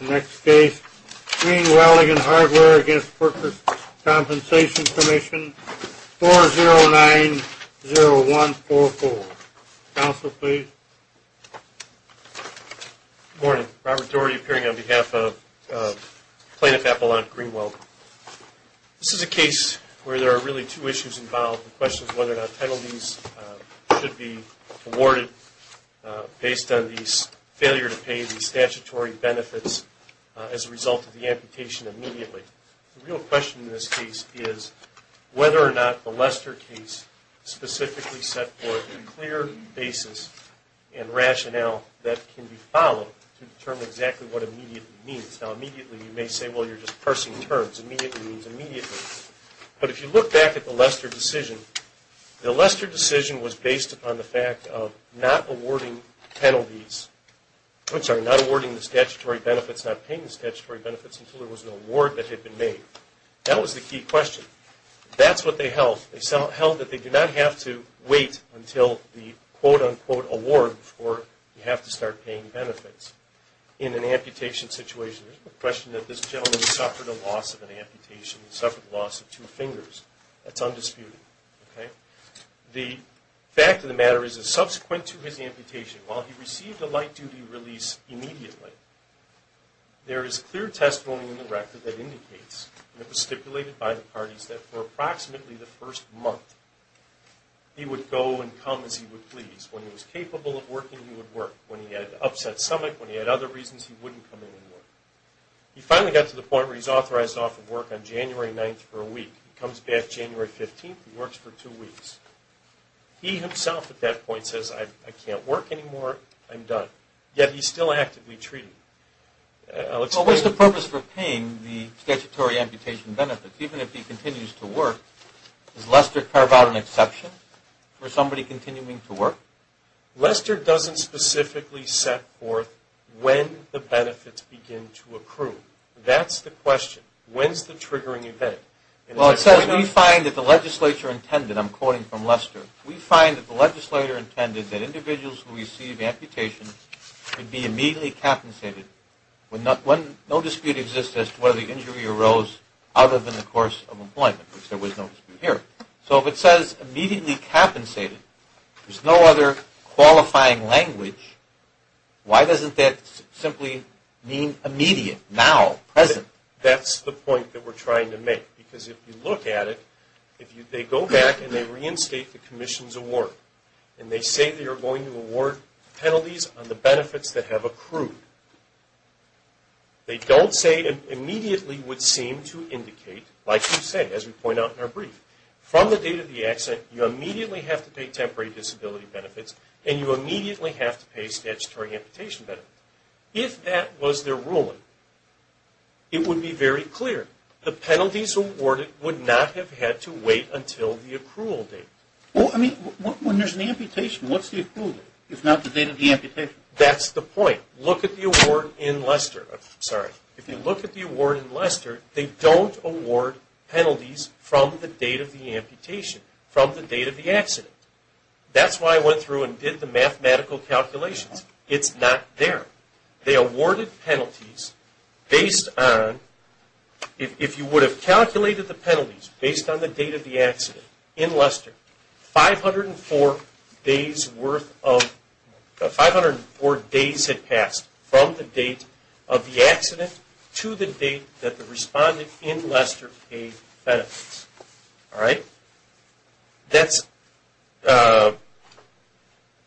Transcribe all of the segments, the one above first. Next case, Greene Welding and Hardware v. Workers' Compensation Commission, 4090144. Counsel, please. Good morning. Robert Doherty appearing on behalf of Plaintiff Appellant Greene Welding. This is a case where there are really two issues involved. The question is whether or not penalties should be awarded based on the failure to pay the statutory benefits as a result of the amputation immediately. The real question in this case is whether or not the Lester case specifically set forth a clear basis and rationale that can be followed to determine exactly what immediately means. Now, immediately, you may say, well, you're just parsing terms. Immediately means immediately. But if you look back at the Lester decision, the Lester decision was based upon the fact of not awarding penalties, I'm sorry, not awarding the statutory benefits, not paying the statutory benefits until there was an award that had been made. That was the key question. That's what they held. They held that they did not have to wait until the quote-unquote award before you have to start paying benefits. In an amputation situation, there's no question that this gentleman suffered a loss of an amputation. He suffered a loss of two fingers. That's undisputed. The fact of the matter is that subsequent to his amputation, while he received a light-duty release immediately, there is clear testimony in the record that indicates, and it was stipulated by the parties, that for approximately the first month, he would go and come as he would please. When he was capable of working, he would work. When he had an upset stomach, when he had other reasons, he wouldn't come in and work. He finally got to the point where he's authorized off of work on January 9th for a week. He comes back January 15th and works for two weeks. He himself at that point says, I can't work anymore. I'm done. Yet he's still actively treating. Well, what's the purpose for paying the statutory amputation benefits? Even if he continues to work, does Lester carve out an exception for somebody continuing to work? Lester doesn't specifically set forth when the benefits begin to accrue. That's the question. When's the triggering event? Well, it says we find that the legislature intended, I'm quoting from Lester, we find that the legislature intended that individuals who receive amputation would be immediately compensated when no dispute exists as to whether the injury arose other than the course of employment, which there was no dispute here. So if it says immediately compensated, there's no other qualifying language, why doesn't that simply mean immediate, now, present? That's the point that we're trying to make. Because if you look at it, if they go back and they reinstate the commission's award and they say they are going to award penalties on the benefits that have accrued, they don't say immediately would seem to indicate, like you say, as we point out in our brief, from the date of the accident, you immediately have to pay temporary disability benefits and you immediately have to pay statutory amputation benefits. If that was their ruling, it would be very clear. The penalties awarded would not have had to wait until the accrual date. Well, I mean, when there's an amputation, what's the accrual date, if not the date of the amputation? That's the point. Look at the award in Lester. I'm sorry. If you look at the award in Lester, they don't award penalties from the date of the amputation, from the date of the accident. That's why I went through and did the mathematical calculations. It's not there. They awarded penalties based on, if you would have calculated the penalties based on the date of the accident in Lester, 504 days had passed from the date of the accident to the date that the respondent in Lester paid benefits. All right? That's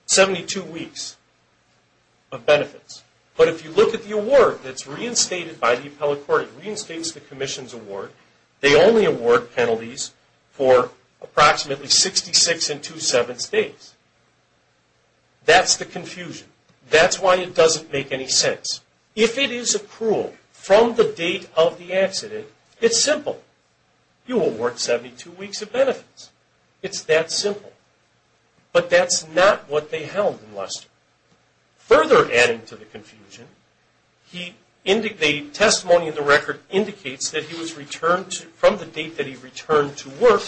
72 weeks of benefits. But if you look at the award that's reinstated by the appellate court, it reinstates the commission's award. They only award penalties for approximately 66 and two-sevenths days. That's the confusion. That's why it doesn't make any sense. If it is accrual from the date of the accident, it's simple. You will work 72 weeks of benefits. It's that simple. But that's not what they held in Lester. Further adding to the confusion, the testimony in the record indicates that he was returned from the date that he returned to work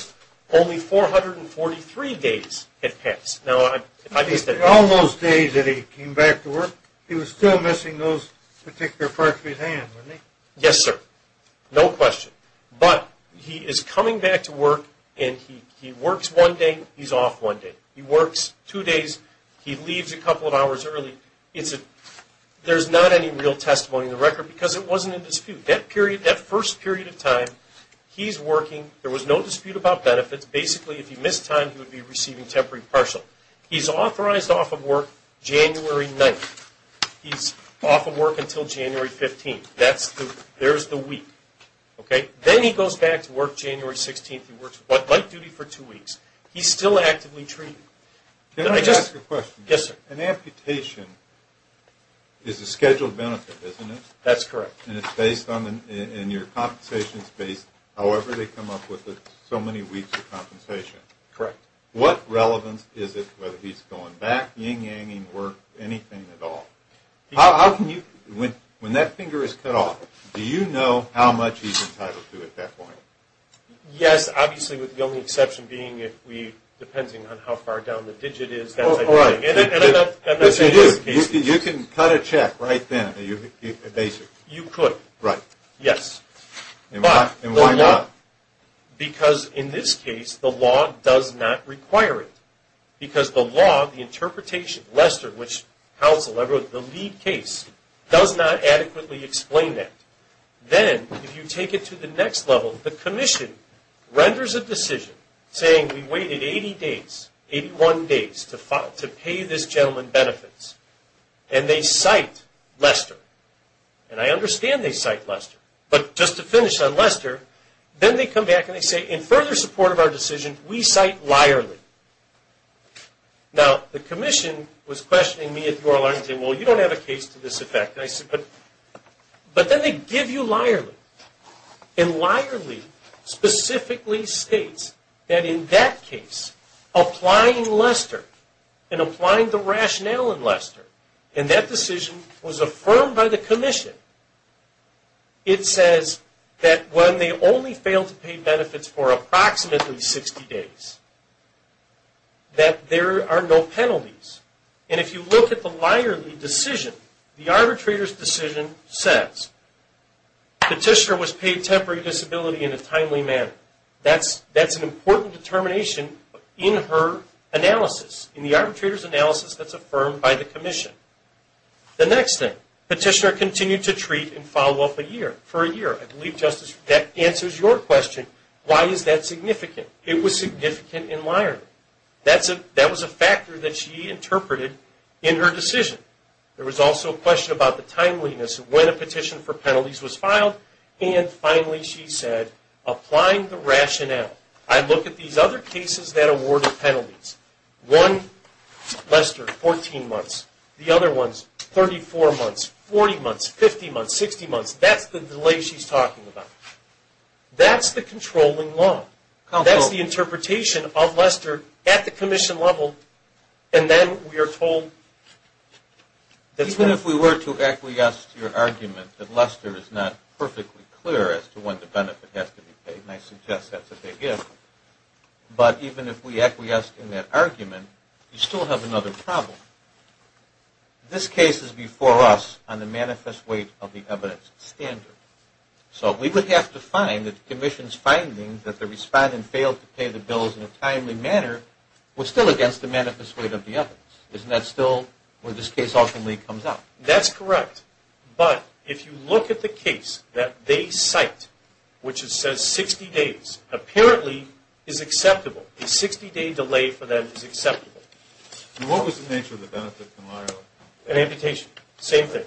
only 443 days had passed. Now, if I missed that. All those days that he came back to work, he was still missing those particular parts of his hand, wasn't he? Yes, sir. No question. But he is coming back to work and he works one day, he's off one day. He works two days, he leaves a couple of hours early. There's not any real testimony in the record because it wasn't in dispute. That first period of time he's working, there was no dispute about benefits. Basically, if he missed time, he would be receiving temporary partial. He's authorized off of work January 9th. He's off of work until January 15th. There's the week. Then he goes back to work January 16th. He works light duty for two weeks. He's still actively treated. Can I ask you a question? Yes, sir. An amputation is a scheduled benefit, isn't it? That's correct. And your compensation is based however they come up with so many weeks of compensation. Correct. What relevance is it whether he's going back, yin-yanging work, anything at all? When that finger is cut off, do you know how much he's entitled to at that point? Yes. Obviously, with the only exception being if we're depending on how far down the digit is. You can cut a check right then, basically. You could. Right. Yes. And why not? Because in this case, the law does not require it. Because the law, the interpretation, Lester, which counsel, the lead case, does not adequately explain that. Then if you take it to the next level, the commission renders a decision saying, we waited 80 days, 81 days to pay this gentleman benefits. And they cite Lester. And I understand they cite Lester. But just to finish on Lester, then they come back and they say, in further support of our decision, we cite Lyerly. Now, the commission was questioning me at the oral argument and said, well, you don't have a case to this effect. And I said, but then they give you Lyerly. And Lyerly specifically states that in that case, applying Lester and applying the rationale in Lester, and that decision was affirmed by the commission, it says that when they only fail to pay benefits for approximately 60 days, that there are no penalties. And if you look at the Lyerly decision, the arbitrator's decision says, petitioner was paid temporary disability in a timely manner. That's an important determination in her analysis, in the arbitrator's analysis that's affirmed by the commission. The next thing, petitioner continued to treat and follow up a year, for a year. I believe, Justice, that answers your question, why is that significant? It was significant in Lyerly. That was a factor that she interpreted in her decision. There was also a question about the timeliness, when a petition for penalties was filed. And finally, she said, applying the rationale. I look at these other cases that awarded penalties. One, Lester, 14 months. The other ones, 34 months, 40 months, 50 months, 60 months. That's the delay she's talking about. That's the controlling law. That's the interpretation of Lester at the commission level, and then we are told. Even if we were to acquiesce to your argument that Lester is not perfectly clear as to when the benefit has to be paid, and I suggest that's a big if, but even if we acquiesced in that argument, you still have another problem. This case is before us on the manifest weight of the evidence standard. So we would have to find that the commission's finding that the respondent failed to pay the bills in a timely manner was still against the manifest weight of the evidence. Isn't that still where this case ultimately comes out? That's correct. But if you look at the case that they cite, which says 60 days, apparently is acceptable. A 60-day delay for them is acceptable. What was the nature of the benefit in Lyerle? An amputation. Same thing.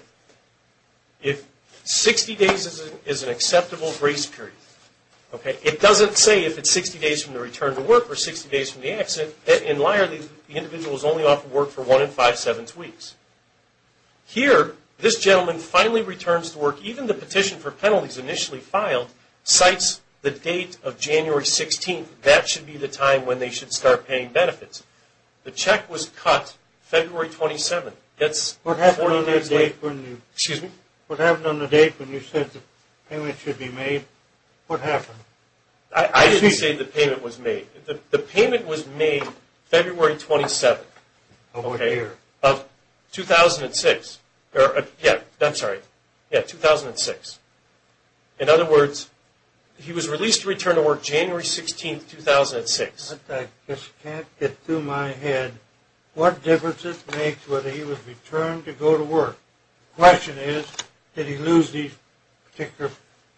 If 60 days is an acceptable grace period. It doesn't say if it's 60 days from the return to work or 60 days from the accident. In Lyerle, the individual is only off of work for one and five-sevenths weeks. Here, this gentleman finally returns to work. Even the petition for penalties initially filed cites the date of January 16th. That should be the time when they should start paying benefits. The check was cut February 27th. What happened on the date when you said the payment should be made? What happened? I didn't say the payment was made. The payment was made February 27th of 2006. I'm sorry. Yeah, 2006. In other words, he was released to return to work January 16th, 2006. I just can't get through my head what difference it makes whether he was returned to go to work. The question is, did he lose these particular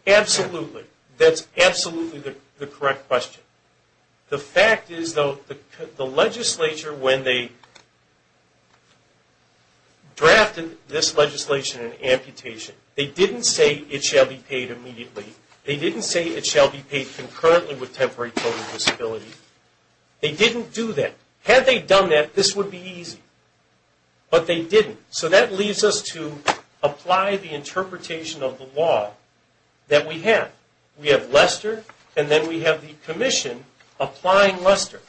benefits? Absolutely. That's absolutely the correct question. The fact is, though, the legislature, when they drafted this legislation in amputation, they didn't say it shall be paid immediately. They didn't say it shall be paid concurrently with temporary total disability. They didn't do that. Had they done that, this would be easy. But they didn't. That leaves us to apply the interpretation of the law that we have. We have Lester, and then we have the commission applying Lester.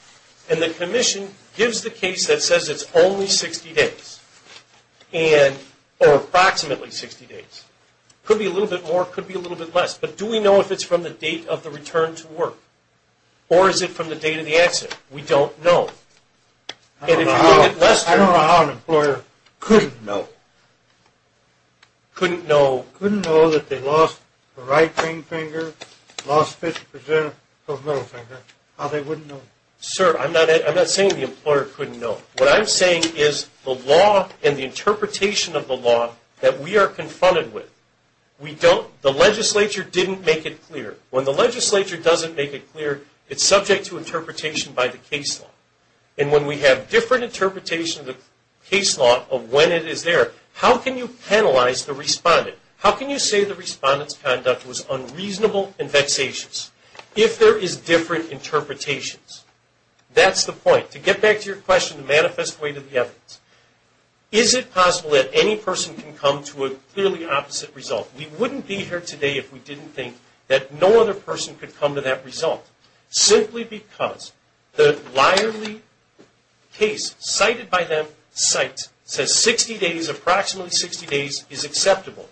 The commission gives the case that says it's only 60 days or approximately 60 days. It could be a little bit more. It could be a little bit less. But do we know if it's from the date of the return to work or is it from the date of the accident? We don't know. I don't know how an employer couldn't know. Couldn't know. Couldn't know that they lost the right ring finger, lost 50 percent of the middle finger. How they wouldn't know. Sir, I'm not saying the employer couldn't know. What I'm saying is the law and the interpretation of the law that we are confronted with, the legislature didn't make it clear. When the legislature doesn't make it clear, it's subject to interpretation by the case law. And when we have different interpretation of the case law of when it is there, how can you penalize the respondent? How can you say the respondent's conduct was unreasonable and vexatious if there is different interpretations? That's the point. To get back to your question, the manifest way to the evidence, is it possible that any person can come to a clearly opposite result? We wouldn't be here today if we didn't think that no other person could come to that result simply because the liarly case cited by them, says 60 days, approximately 60 days, is acceptable.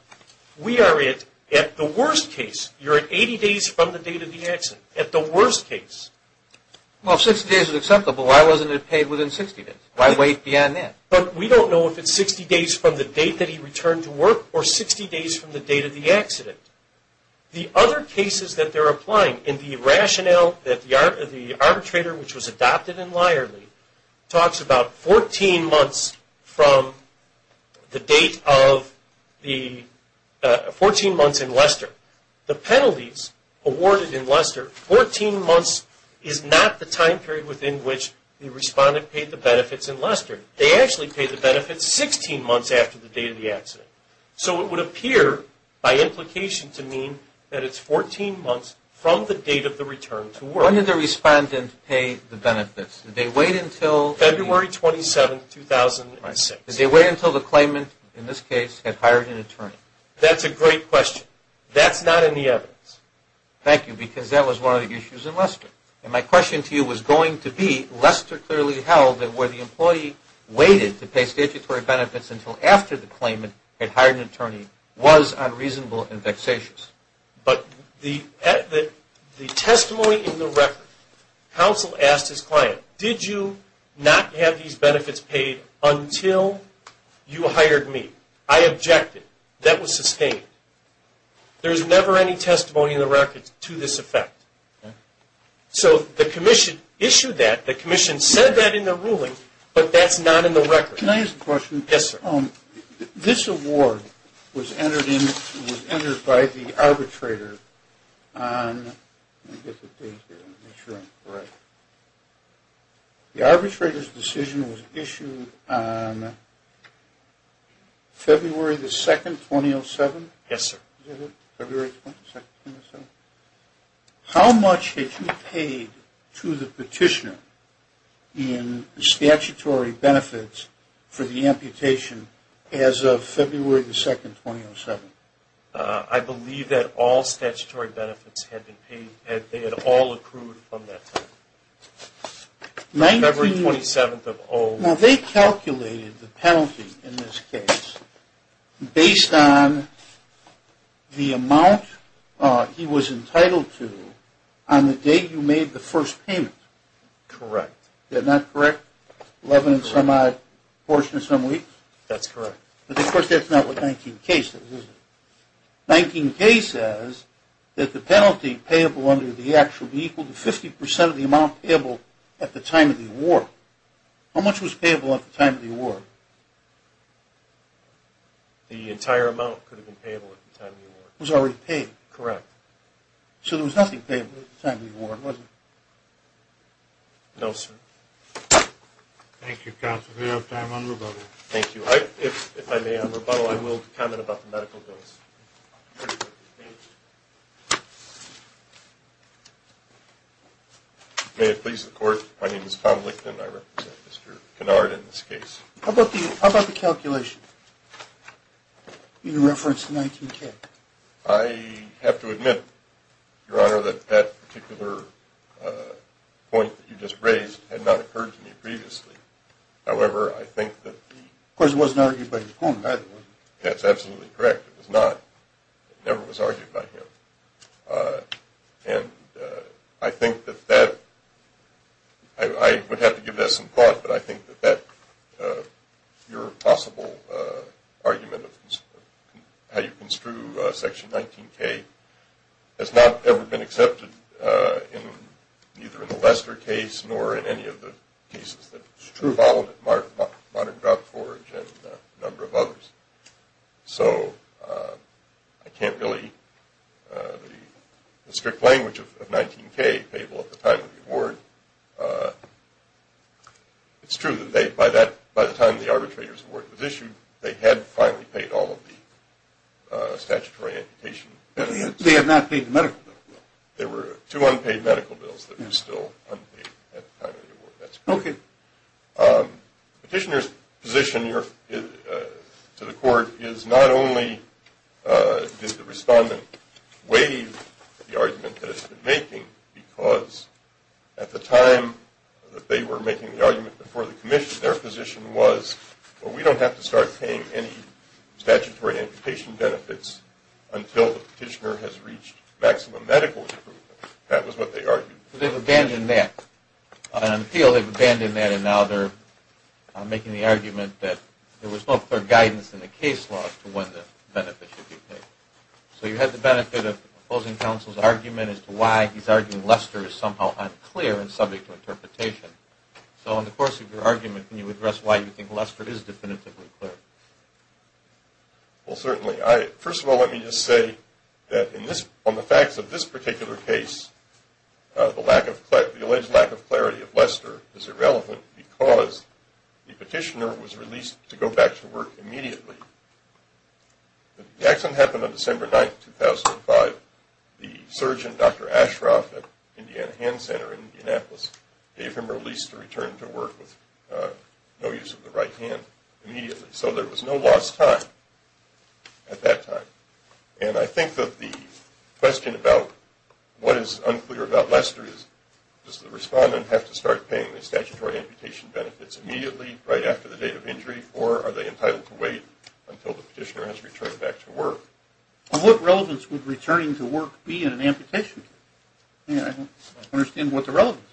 We are at the worst case. You're at 80 days from the date of the accident, at the worst case. Well, if 60 days is acceptable, why wasn't it paid within 60 days? Why wait beyond that? But we don't know if it's 60 days from the date that he returned to work or 60 days from the date of the accident. The other cases that they're applying in the rationale that the arbitrator, which was adopted in liarly, talks about 14 months in Leicester. The penalties awarded in Leicester, 14 months, is not the time period within which the respondent paid the benefits in Leicester. They actually paid the benefits 16 months after the date of the accident. So it would appear, by implication, to mean that it's 14 months from the date of the return to work. When did the respondent pay the benefits? Did they wait until... February 27, 2006. Did they wait until the claimant, in this case, had hired an attorney? That's a great question. That's not in the evidence. Thank you, because that was one of the issues in Leicester. And my question to you was going to be, Leicester clearly held that where the employee waited to pay statutory benefits until after the claimant had hired an attorney was unreasonable and vexatious. But the testimony in the record, counsel asked his client, did you not have these benefits paid until you hired me? I objected. That was sustained. There's never any testimony in the record to this effect. So the commission issued that. The commission said that in the ruling, but that's not in the record. Can I ask a question? Yes, sir. This award was entered by the arbitrator on... The arbitrator's decision was issued on February 2, 2007? Yes, sir. Is that it? February 2, 2007? How much had you paid to the petitioner in statutory benefits for the amputation as of February 2, 2007? I believe that all statutory benefits had been paid. They had all accrued from that time. February 27th of... Well, they calculated the penalty in this case based on the amount he was entitled to on the date you made the first payment. Correct. Is that not correct? Eleven and some odd portion of some weeks? That's correct. But, of course, that's not what 19K says, is it? 19K says that the penalty payable under the act will be equal to 50% of the amount payable at the time of the award. How much was payable at the time of the award? The entire amount could have been payable at the time of the award. It was already paid? Correct. So there was nothing payable at the time of the award, was there? No, sir. Thank you, counsel. Do we have time on rebuttal? Thank you. If I may, on rebuttal, I will comment about the medical bills. May it please the Court. My name is Tom Lichten. I represent Mr. Kennard in this case. How about the calculation in reference to 19K? I have to admit, Your Honor, that that particular point that you just raised had not occurred to me previously. However, I think that the – Of course, it wasn't argued by your opponent, either, was it? That's absolutely correct. It was not. It never was argued by him. And I think that that – I would have to give that some thought, but I think that your possible argument of how you construe Section 19K has not ever been accepted either in the Lester case nor in any of the cases that prove all of it, Modern Drought Forge and a number of others. So I can't really – the strict language of 19K payable at the time of the award. It's true that by the time the arbitrator's award was issued, they had finally paid all of the statutory amputation. They had not paid the medical bill. There were two unpaid medical bills that were still unpaid at the time of the award. That's correct. The petitioner's position to the court is not only did the respondent waive the argument that it's been making because at the time that they were making the argument before the commission, their position was, well, we don't have to start paying any statutory amputation benefits until the petitioner has reached maximum medical improvement. That was what they argued. So they've abandoned that. On appeal, they've abandoned that, and now they're making the argument that there was no clear guidance in the case law as to when the benefit should be paid. So you had the benefit of opposing counsel's argument as to why he's arguing Lester is somehow unclear and subject to interpretation. So in the course of your argument, can you address why you think Lester is definitively clear? Well, certainly. First of all, let me just say that on the facts of this particular case, the alleged lack of clarity of Lester is irrelevant because the petitioner was released to go back to work immediately. The accident happened on December 9, 2005. The surgeon, Dr. Ashcroft at Indiana Hand Center in Indianapolis, gave him release to return to work with no use of the right hand immediately. So there was no lost time at that time. And I think that the question about what is unclear about Lester is, does the respondent have to start paying the statutory amputation benefits immediately, right after the date of injury, or are they entitled to wait until the petitioner has returned back to work? What relevance would returning to work be in an amputation case? I don't understand what the relevance is.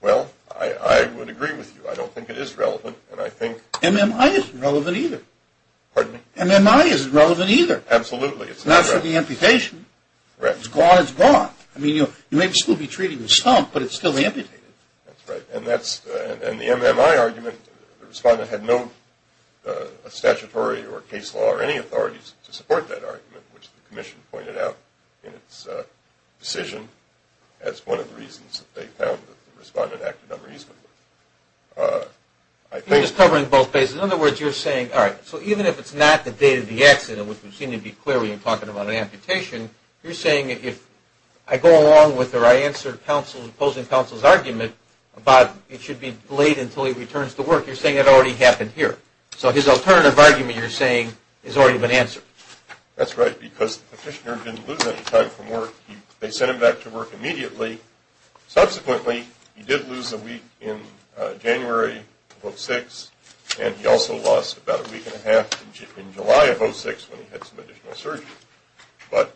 Well, I would agree with you. I don't think it is relevant. MMI isn't relevant either. Pardon me? MMI isn't relevant either. Absolutely. It's not relevant. Not for the amputation. Right. It's gone, it's gone. I mean, you may still be treating the stump, but it's still amputated. That's right. And the MMI argument, the respondent had no statutory or case law or any authorities to support that argument, which the commission pointed out in its decision as one of the reasons that they found that the respondent acted unreasonably. You're just covering both bases. In other words, you're saying, all right, so even if it's not the date of the accident, which we seem to be clearly talking about an amputation, you're saying if I go along with or I answer opposing counsel's argument about it should be delayed until he returns to work, you're saying it already happened here. So his alternative argument, you're saying, has already been answered. That's right, because the petitioner didn't lose any time from work. They sent him back to work immediately. Subsequently, he did lose a week in January of 06, and he also lost about a week and a half in July of 06 when he had some additional surgery. But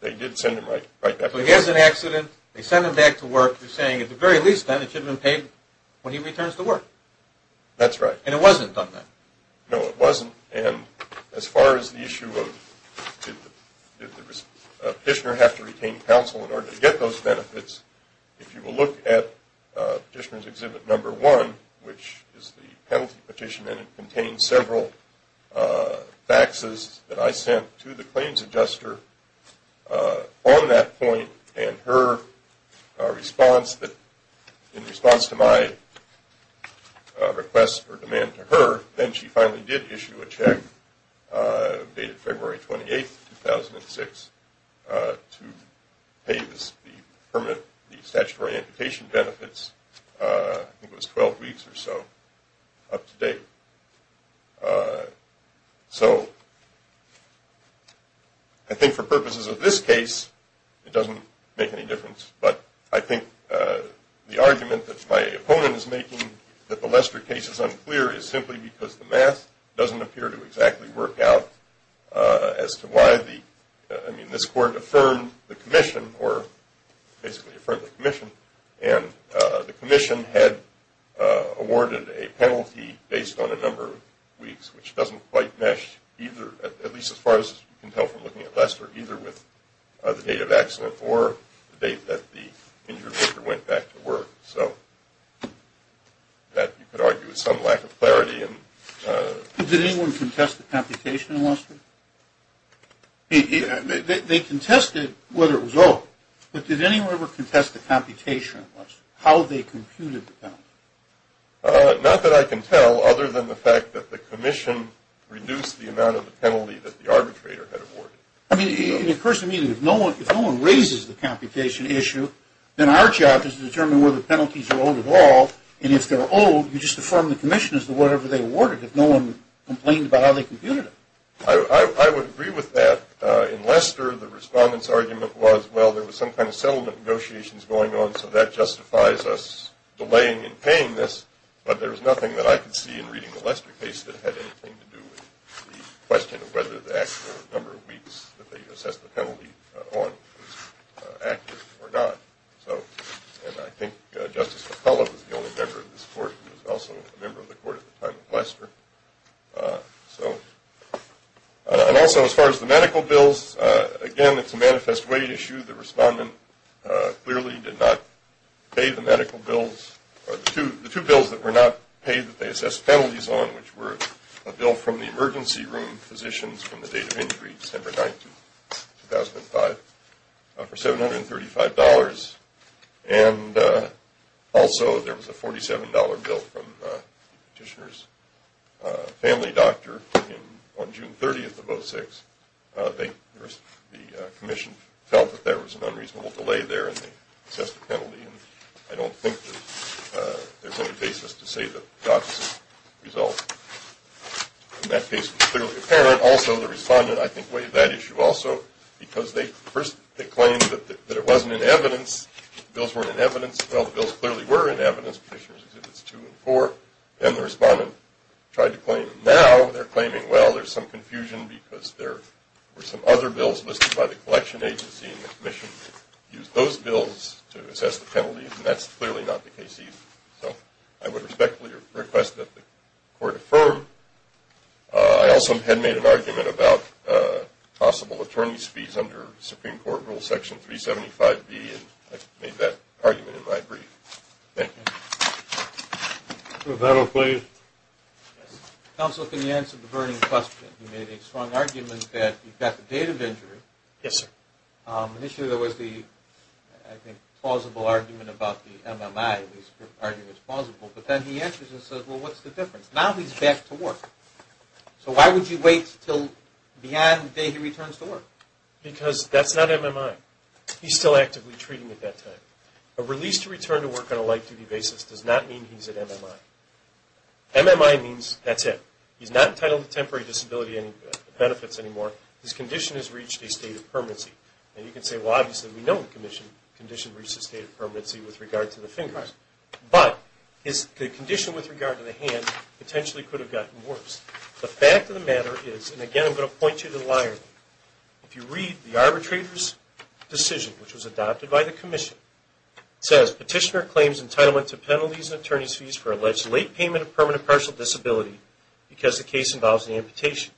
they did send him right back to work. So he has an accident. They sent him back to work. You're saying at the very least then it should have been paid when he returns to work. That's right. And it wasn't done then. No, it wasn't. And as far as the issue of did the petitioner have to retain counsel in order to get those benefits, if you will look at Petitioner's Exhibit No. 1, which is the penalty petition, and it contains several faxes that I sent to the claims adjuster on that point and her response that in response to my request or demand to her, then she finally did issue a check dated February 28, 2006, to pay the statutory amputation benefits. I think it was 12 weeks or so up to date. So I think for purposes of this case, it doesn't make any difference. But I think the argument that my opponent is making that the Lester case is unclear is simply because the math doesn't appear to exactly work out as to why the, I mean, this court affirmed the commission or basically affirmed the commission, and the commission had awarded a penalty based on a number of weeks, which doesn't quite mesh either, at least as far as you can tell from looking at Lester, either with the date of accident or the date that the injured worker went back to work. So that you could argue is some lack of clarity. Did anyone contest the computation in Lester? They contested whether it was over, but did anyone ever contest the computation in Lester, how they computed the penalty? Not that I can tell, other than the fact that the commission reduced the amount of the penalty that the arbitrator had awarded. I mean, in the first meeting, if no one raises the computation issue, then our job is to determine whether penalties are old at all. And if they're old, you just affirm the commission as to whatever they awarded, if no one complained about how they computed it. I would agree with that. In Lester, the respondent's argument was, well, there was some kind of settlement negotiations going on, so that justifies us delaying and paying this, but there was nothing that I could see in reading the Lester case that had anything to do with the question of whether the actual number of weeks that they assessed the penalty on was accurate or not. And I think Justice McCullough was the only member of this court and was also a member of the court at the time of Lester. And also, as far as the medical bills, again, it's a manifest way issue. The respondent clearly did not pay the medical bills, the two bills that were not paid that they assessed penalties on, which were a bill from the emergency room physicians from the date of injury, December 9th, 2005, for $735. And also there was a $47 bill from the petitioner's family doctor on June 30th of 2006. The commission felt that there was an unreasonable delay there, and they assessed the penalty, and I don't think that there's any basis to say that the doctor's result in that case was clearly apparent. Also, the respondent, I think, weighed that issue also, because first they claimed that it wasn't in evidence, the bills weren't in evidence. Well, the bills clearly were in evidence, Petitioners Exhibits 2 and 4, and the respondent tried to claim them. Now they're claiming, well, there's some confusion because there were some other bills listed by the collection agency and the commission used those bills to assess the penalties, and that's clearly not the case either. So I would respectfully request that the court affirm. I also had made an argument about possible attorney's fees under Supreme Court Rule Section 375B, and I made that argument in my brief. Thank you. Mr. O'Donnell, please. Counsel, can you answer the burning question? You made a strong argument that you've got the date of injury. Yes, sir. Initially there was the, I think, plausible argument about the MMI, at least the argument's plausible, but then he answers and says, well, what's the difference? Now he's back to work. So why would you wait until beyond the day he returns to work? Because that's not MMI. He's still actively treating at that time. A release to return to work on a light-duty basis does not mean he's at MMI. MMI means that's it. He's not entitled to temporary disability benefits anymore. His condition has reached a state of permanency. And you can say, well, obviously we know the condition reached a state of permanency with regard to the fin card. But his condition with regard to the hand potentially could have gotten worse. The fact of the matter is, and again I'm going to point you to the liar, if you read the arbitrator's decision, which was adopted by the commission, it says, Petitioner claims entitlement to penalties and attorney's fees for alleged late payment of permanent partial disability because the case involves an amputation.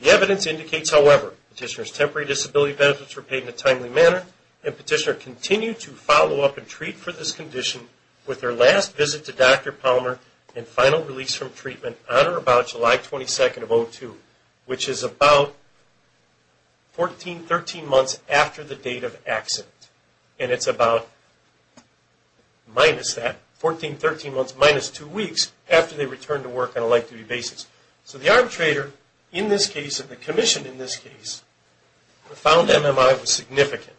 The evidence indicates, however, Petitioner's temporary disability benefits were paid in a timely manner, and Petitioner continued to follow up and treat for this condition with their last visit to Dr. Palmer and final release from treatment on or about July 22nd of 2002, which is about 14, 13 months after the date of accident. And it's about minus that, 14, 13 months minus two weeks after they returned to work on a light-duty basis. So the arbitrator in this case and the commission in this case found MMI was significant.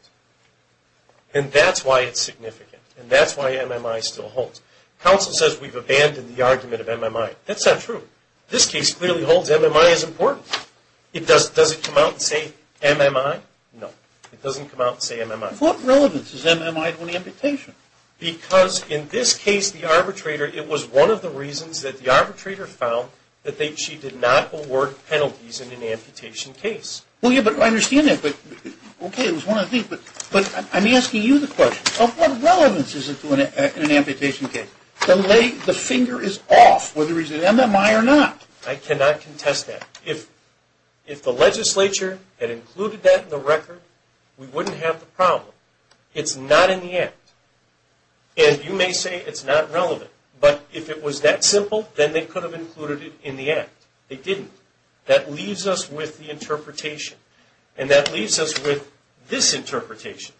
And that's why it's significant. And that's why MMI still holds. Counsel says we've abandoned the argument of MMI. That's not true. This case clearly holds MMI is important. Does it come out and say MMI? No. It doesn't come out and say MMI. What relevance is MMI to an amputation? Because in this case, the arbitrator, it was one of the reasons that the arbitrator found that she did not award penalties in an amputation case. Well, yeah, but I understand that. But, okay, it was one of the things. But I'm asking you the question. Of what relevance is it to an amputation case? The finger is off whether it's an MMI or not. I cannot contest that. If the legislature had included that in the record, we wouldn't have the problem. It's not in the act. And you may say it's not relevant. But if it was that simple, then they could have included it in the act. They didn't. That leaves us with the interpretation. And that leaves us with this interpretation.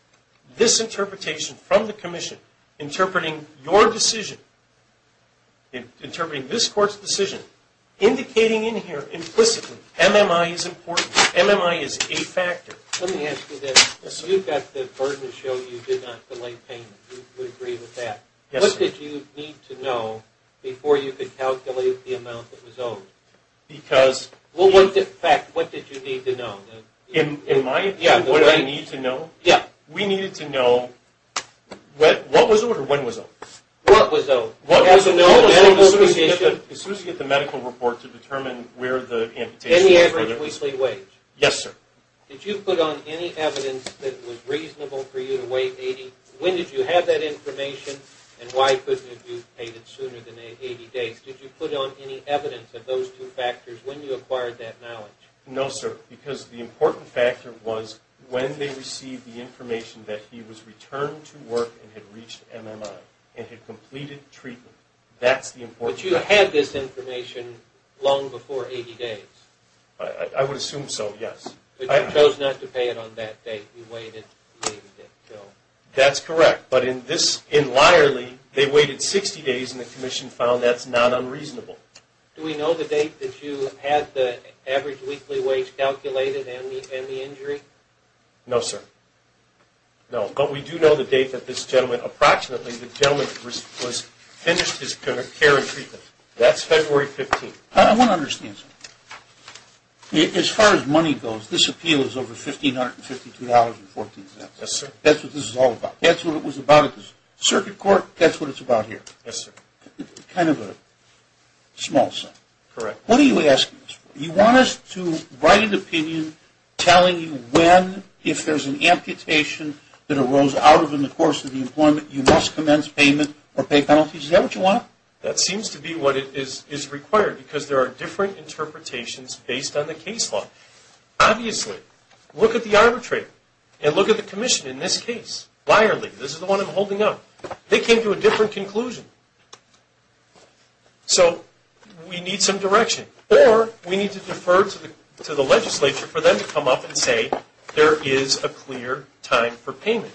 This interpretation from the commission interpreting your decision, interpreting this court's decision, indicating in here implicitly MMI is important, MMI is a factor. Let me ask you this. You've got the burden to show you did not delay payment. You would agree with that. Yes, sir. What did you need to know before you could calculate the amount that was owed? Because... Well, in fact, what did you need to know? In my opinion, what do I need to know? Yeah. We needed to know what was owed or when was owed. What was owed? As soon as you get the medical report to determine where the amputation... Any average weekly wage. Yes, sir. Did you put on any evidence that was reasonable for you to wait 80? When did you have that information? And why couldn't you have paid it sooner than 80 days? Did you put on any evidence of those two factors when you acquired that knowledge? No, sir. Because the important factor was when they received the information that he was returned to work and had reached MMI and had completed treatment. That's the important... But you had this information long before 80 days. I would assume so, yes. But you chose not to pay it on that date. You waited the 80 days. That's correct. But in Lyerly, they waited 60 days, and the commission found that's not unreasonable. Do we know the date that you had the average weekly wage calculated and the injury? No, sir. No, but we do know the date that this gentleman, approximately the gentleman finished his care and treatment. That's February 15th. I want to understand something. As far as money goes, this appeal is over $1,552.14. Yes, sir. That's what this is all about. That's what it was about at the circuit court. That's what it's about here. Yes, sir. Kind of a small sum. Correct. What are you asking us for? You want us to write an opinion telling you when, if there's an amputation that arose out of it in the course of the employment, you must commence payment or pay penalties. Is that what you want? That seems to be what is required, because there are different interpretations based on the case law. Obviously, look at the arbitrator and look at the commission in this case. Lyerly, this is the one I'm holding up. They came to a different conclusion. So we need some direction, or we need to defer to the legislature for them to come up and say, there is a clear time for payment.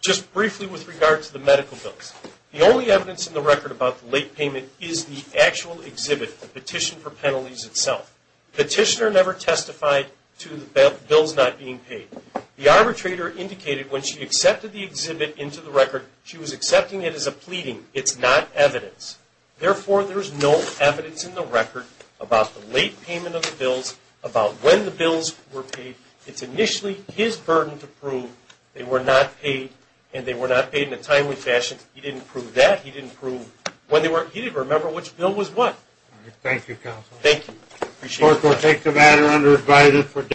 Just briefly with regard to the medical bills, the only evidence in the record about the late payment is the actual exhibit, the petition for penalties itself. The petitioner never testified to the bills not being paid. The arbitrator indicated when she accepted the exhibit into the record, she was accepting it as a pleading. It's not evidence. Therefore, there's no evidence in the record about the late payment of the bills, about when the bills were paid. It's initially his burden to prove they were not paid, and they were not paid in a timely fashion. He didn't prove that. He didn't prove when they were. He didn't remember which bill was what. All right. Thank you, counsel. Thank you. Appreciate it. Court will take the matter under advisory for discussion.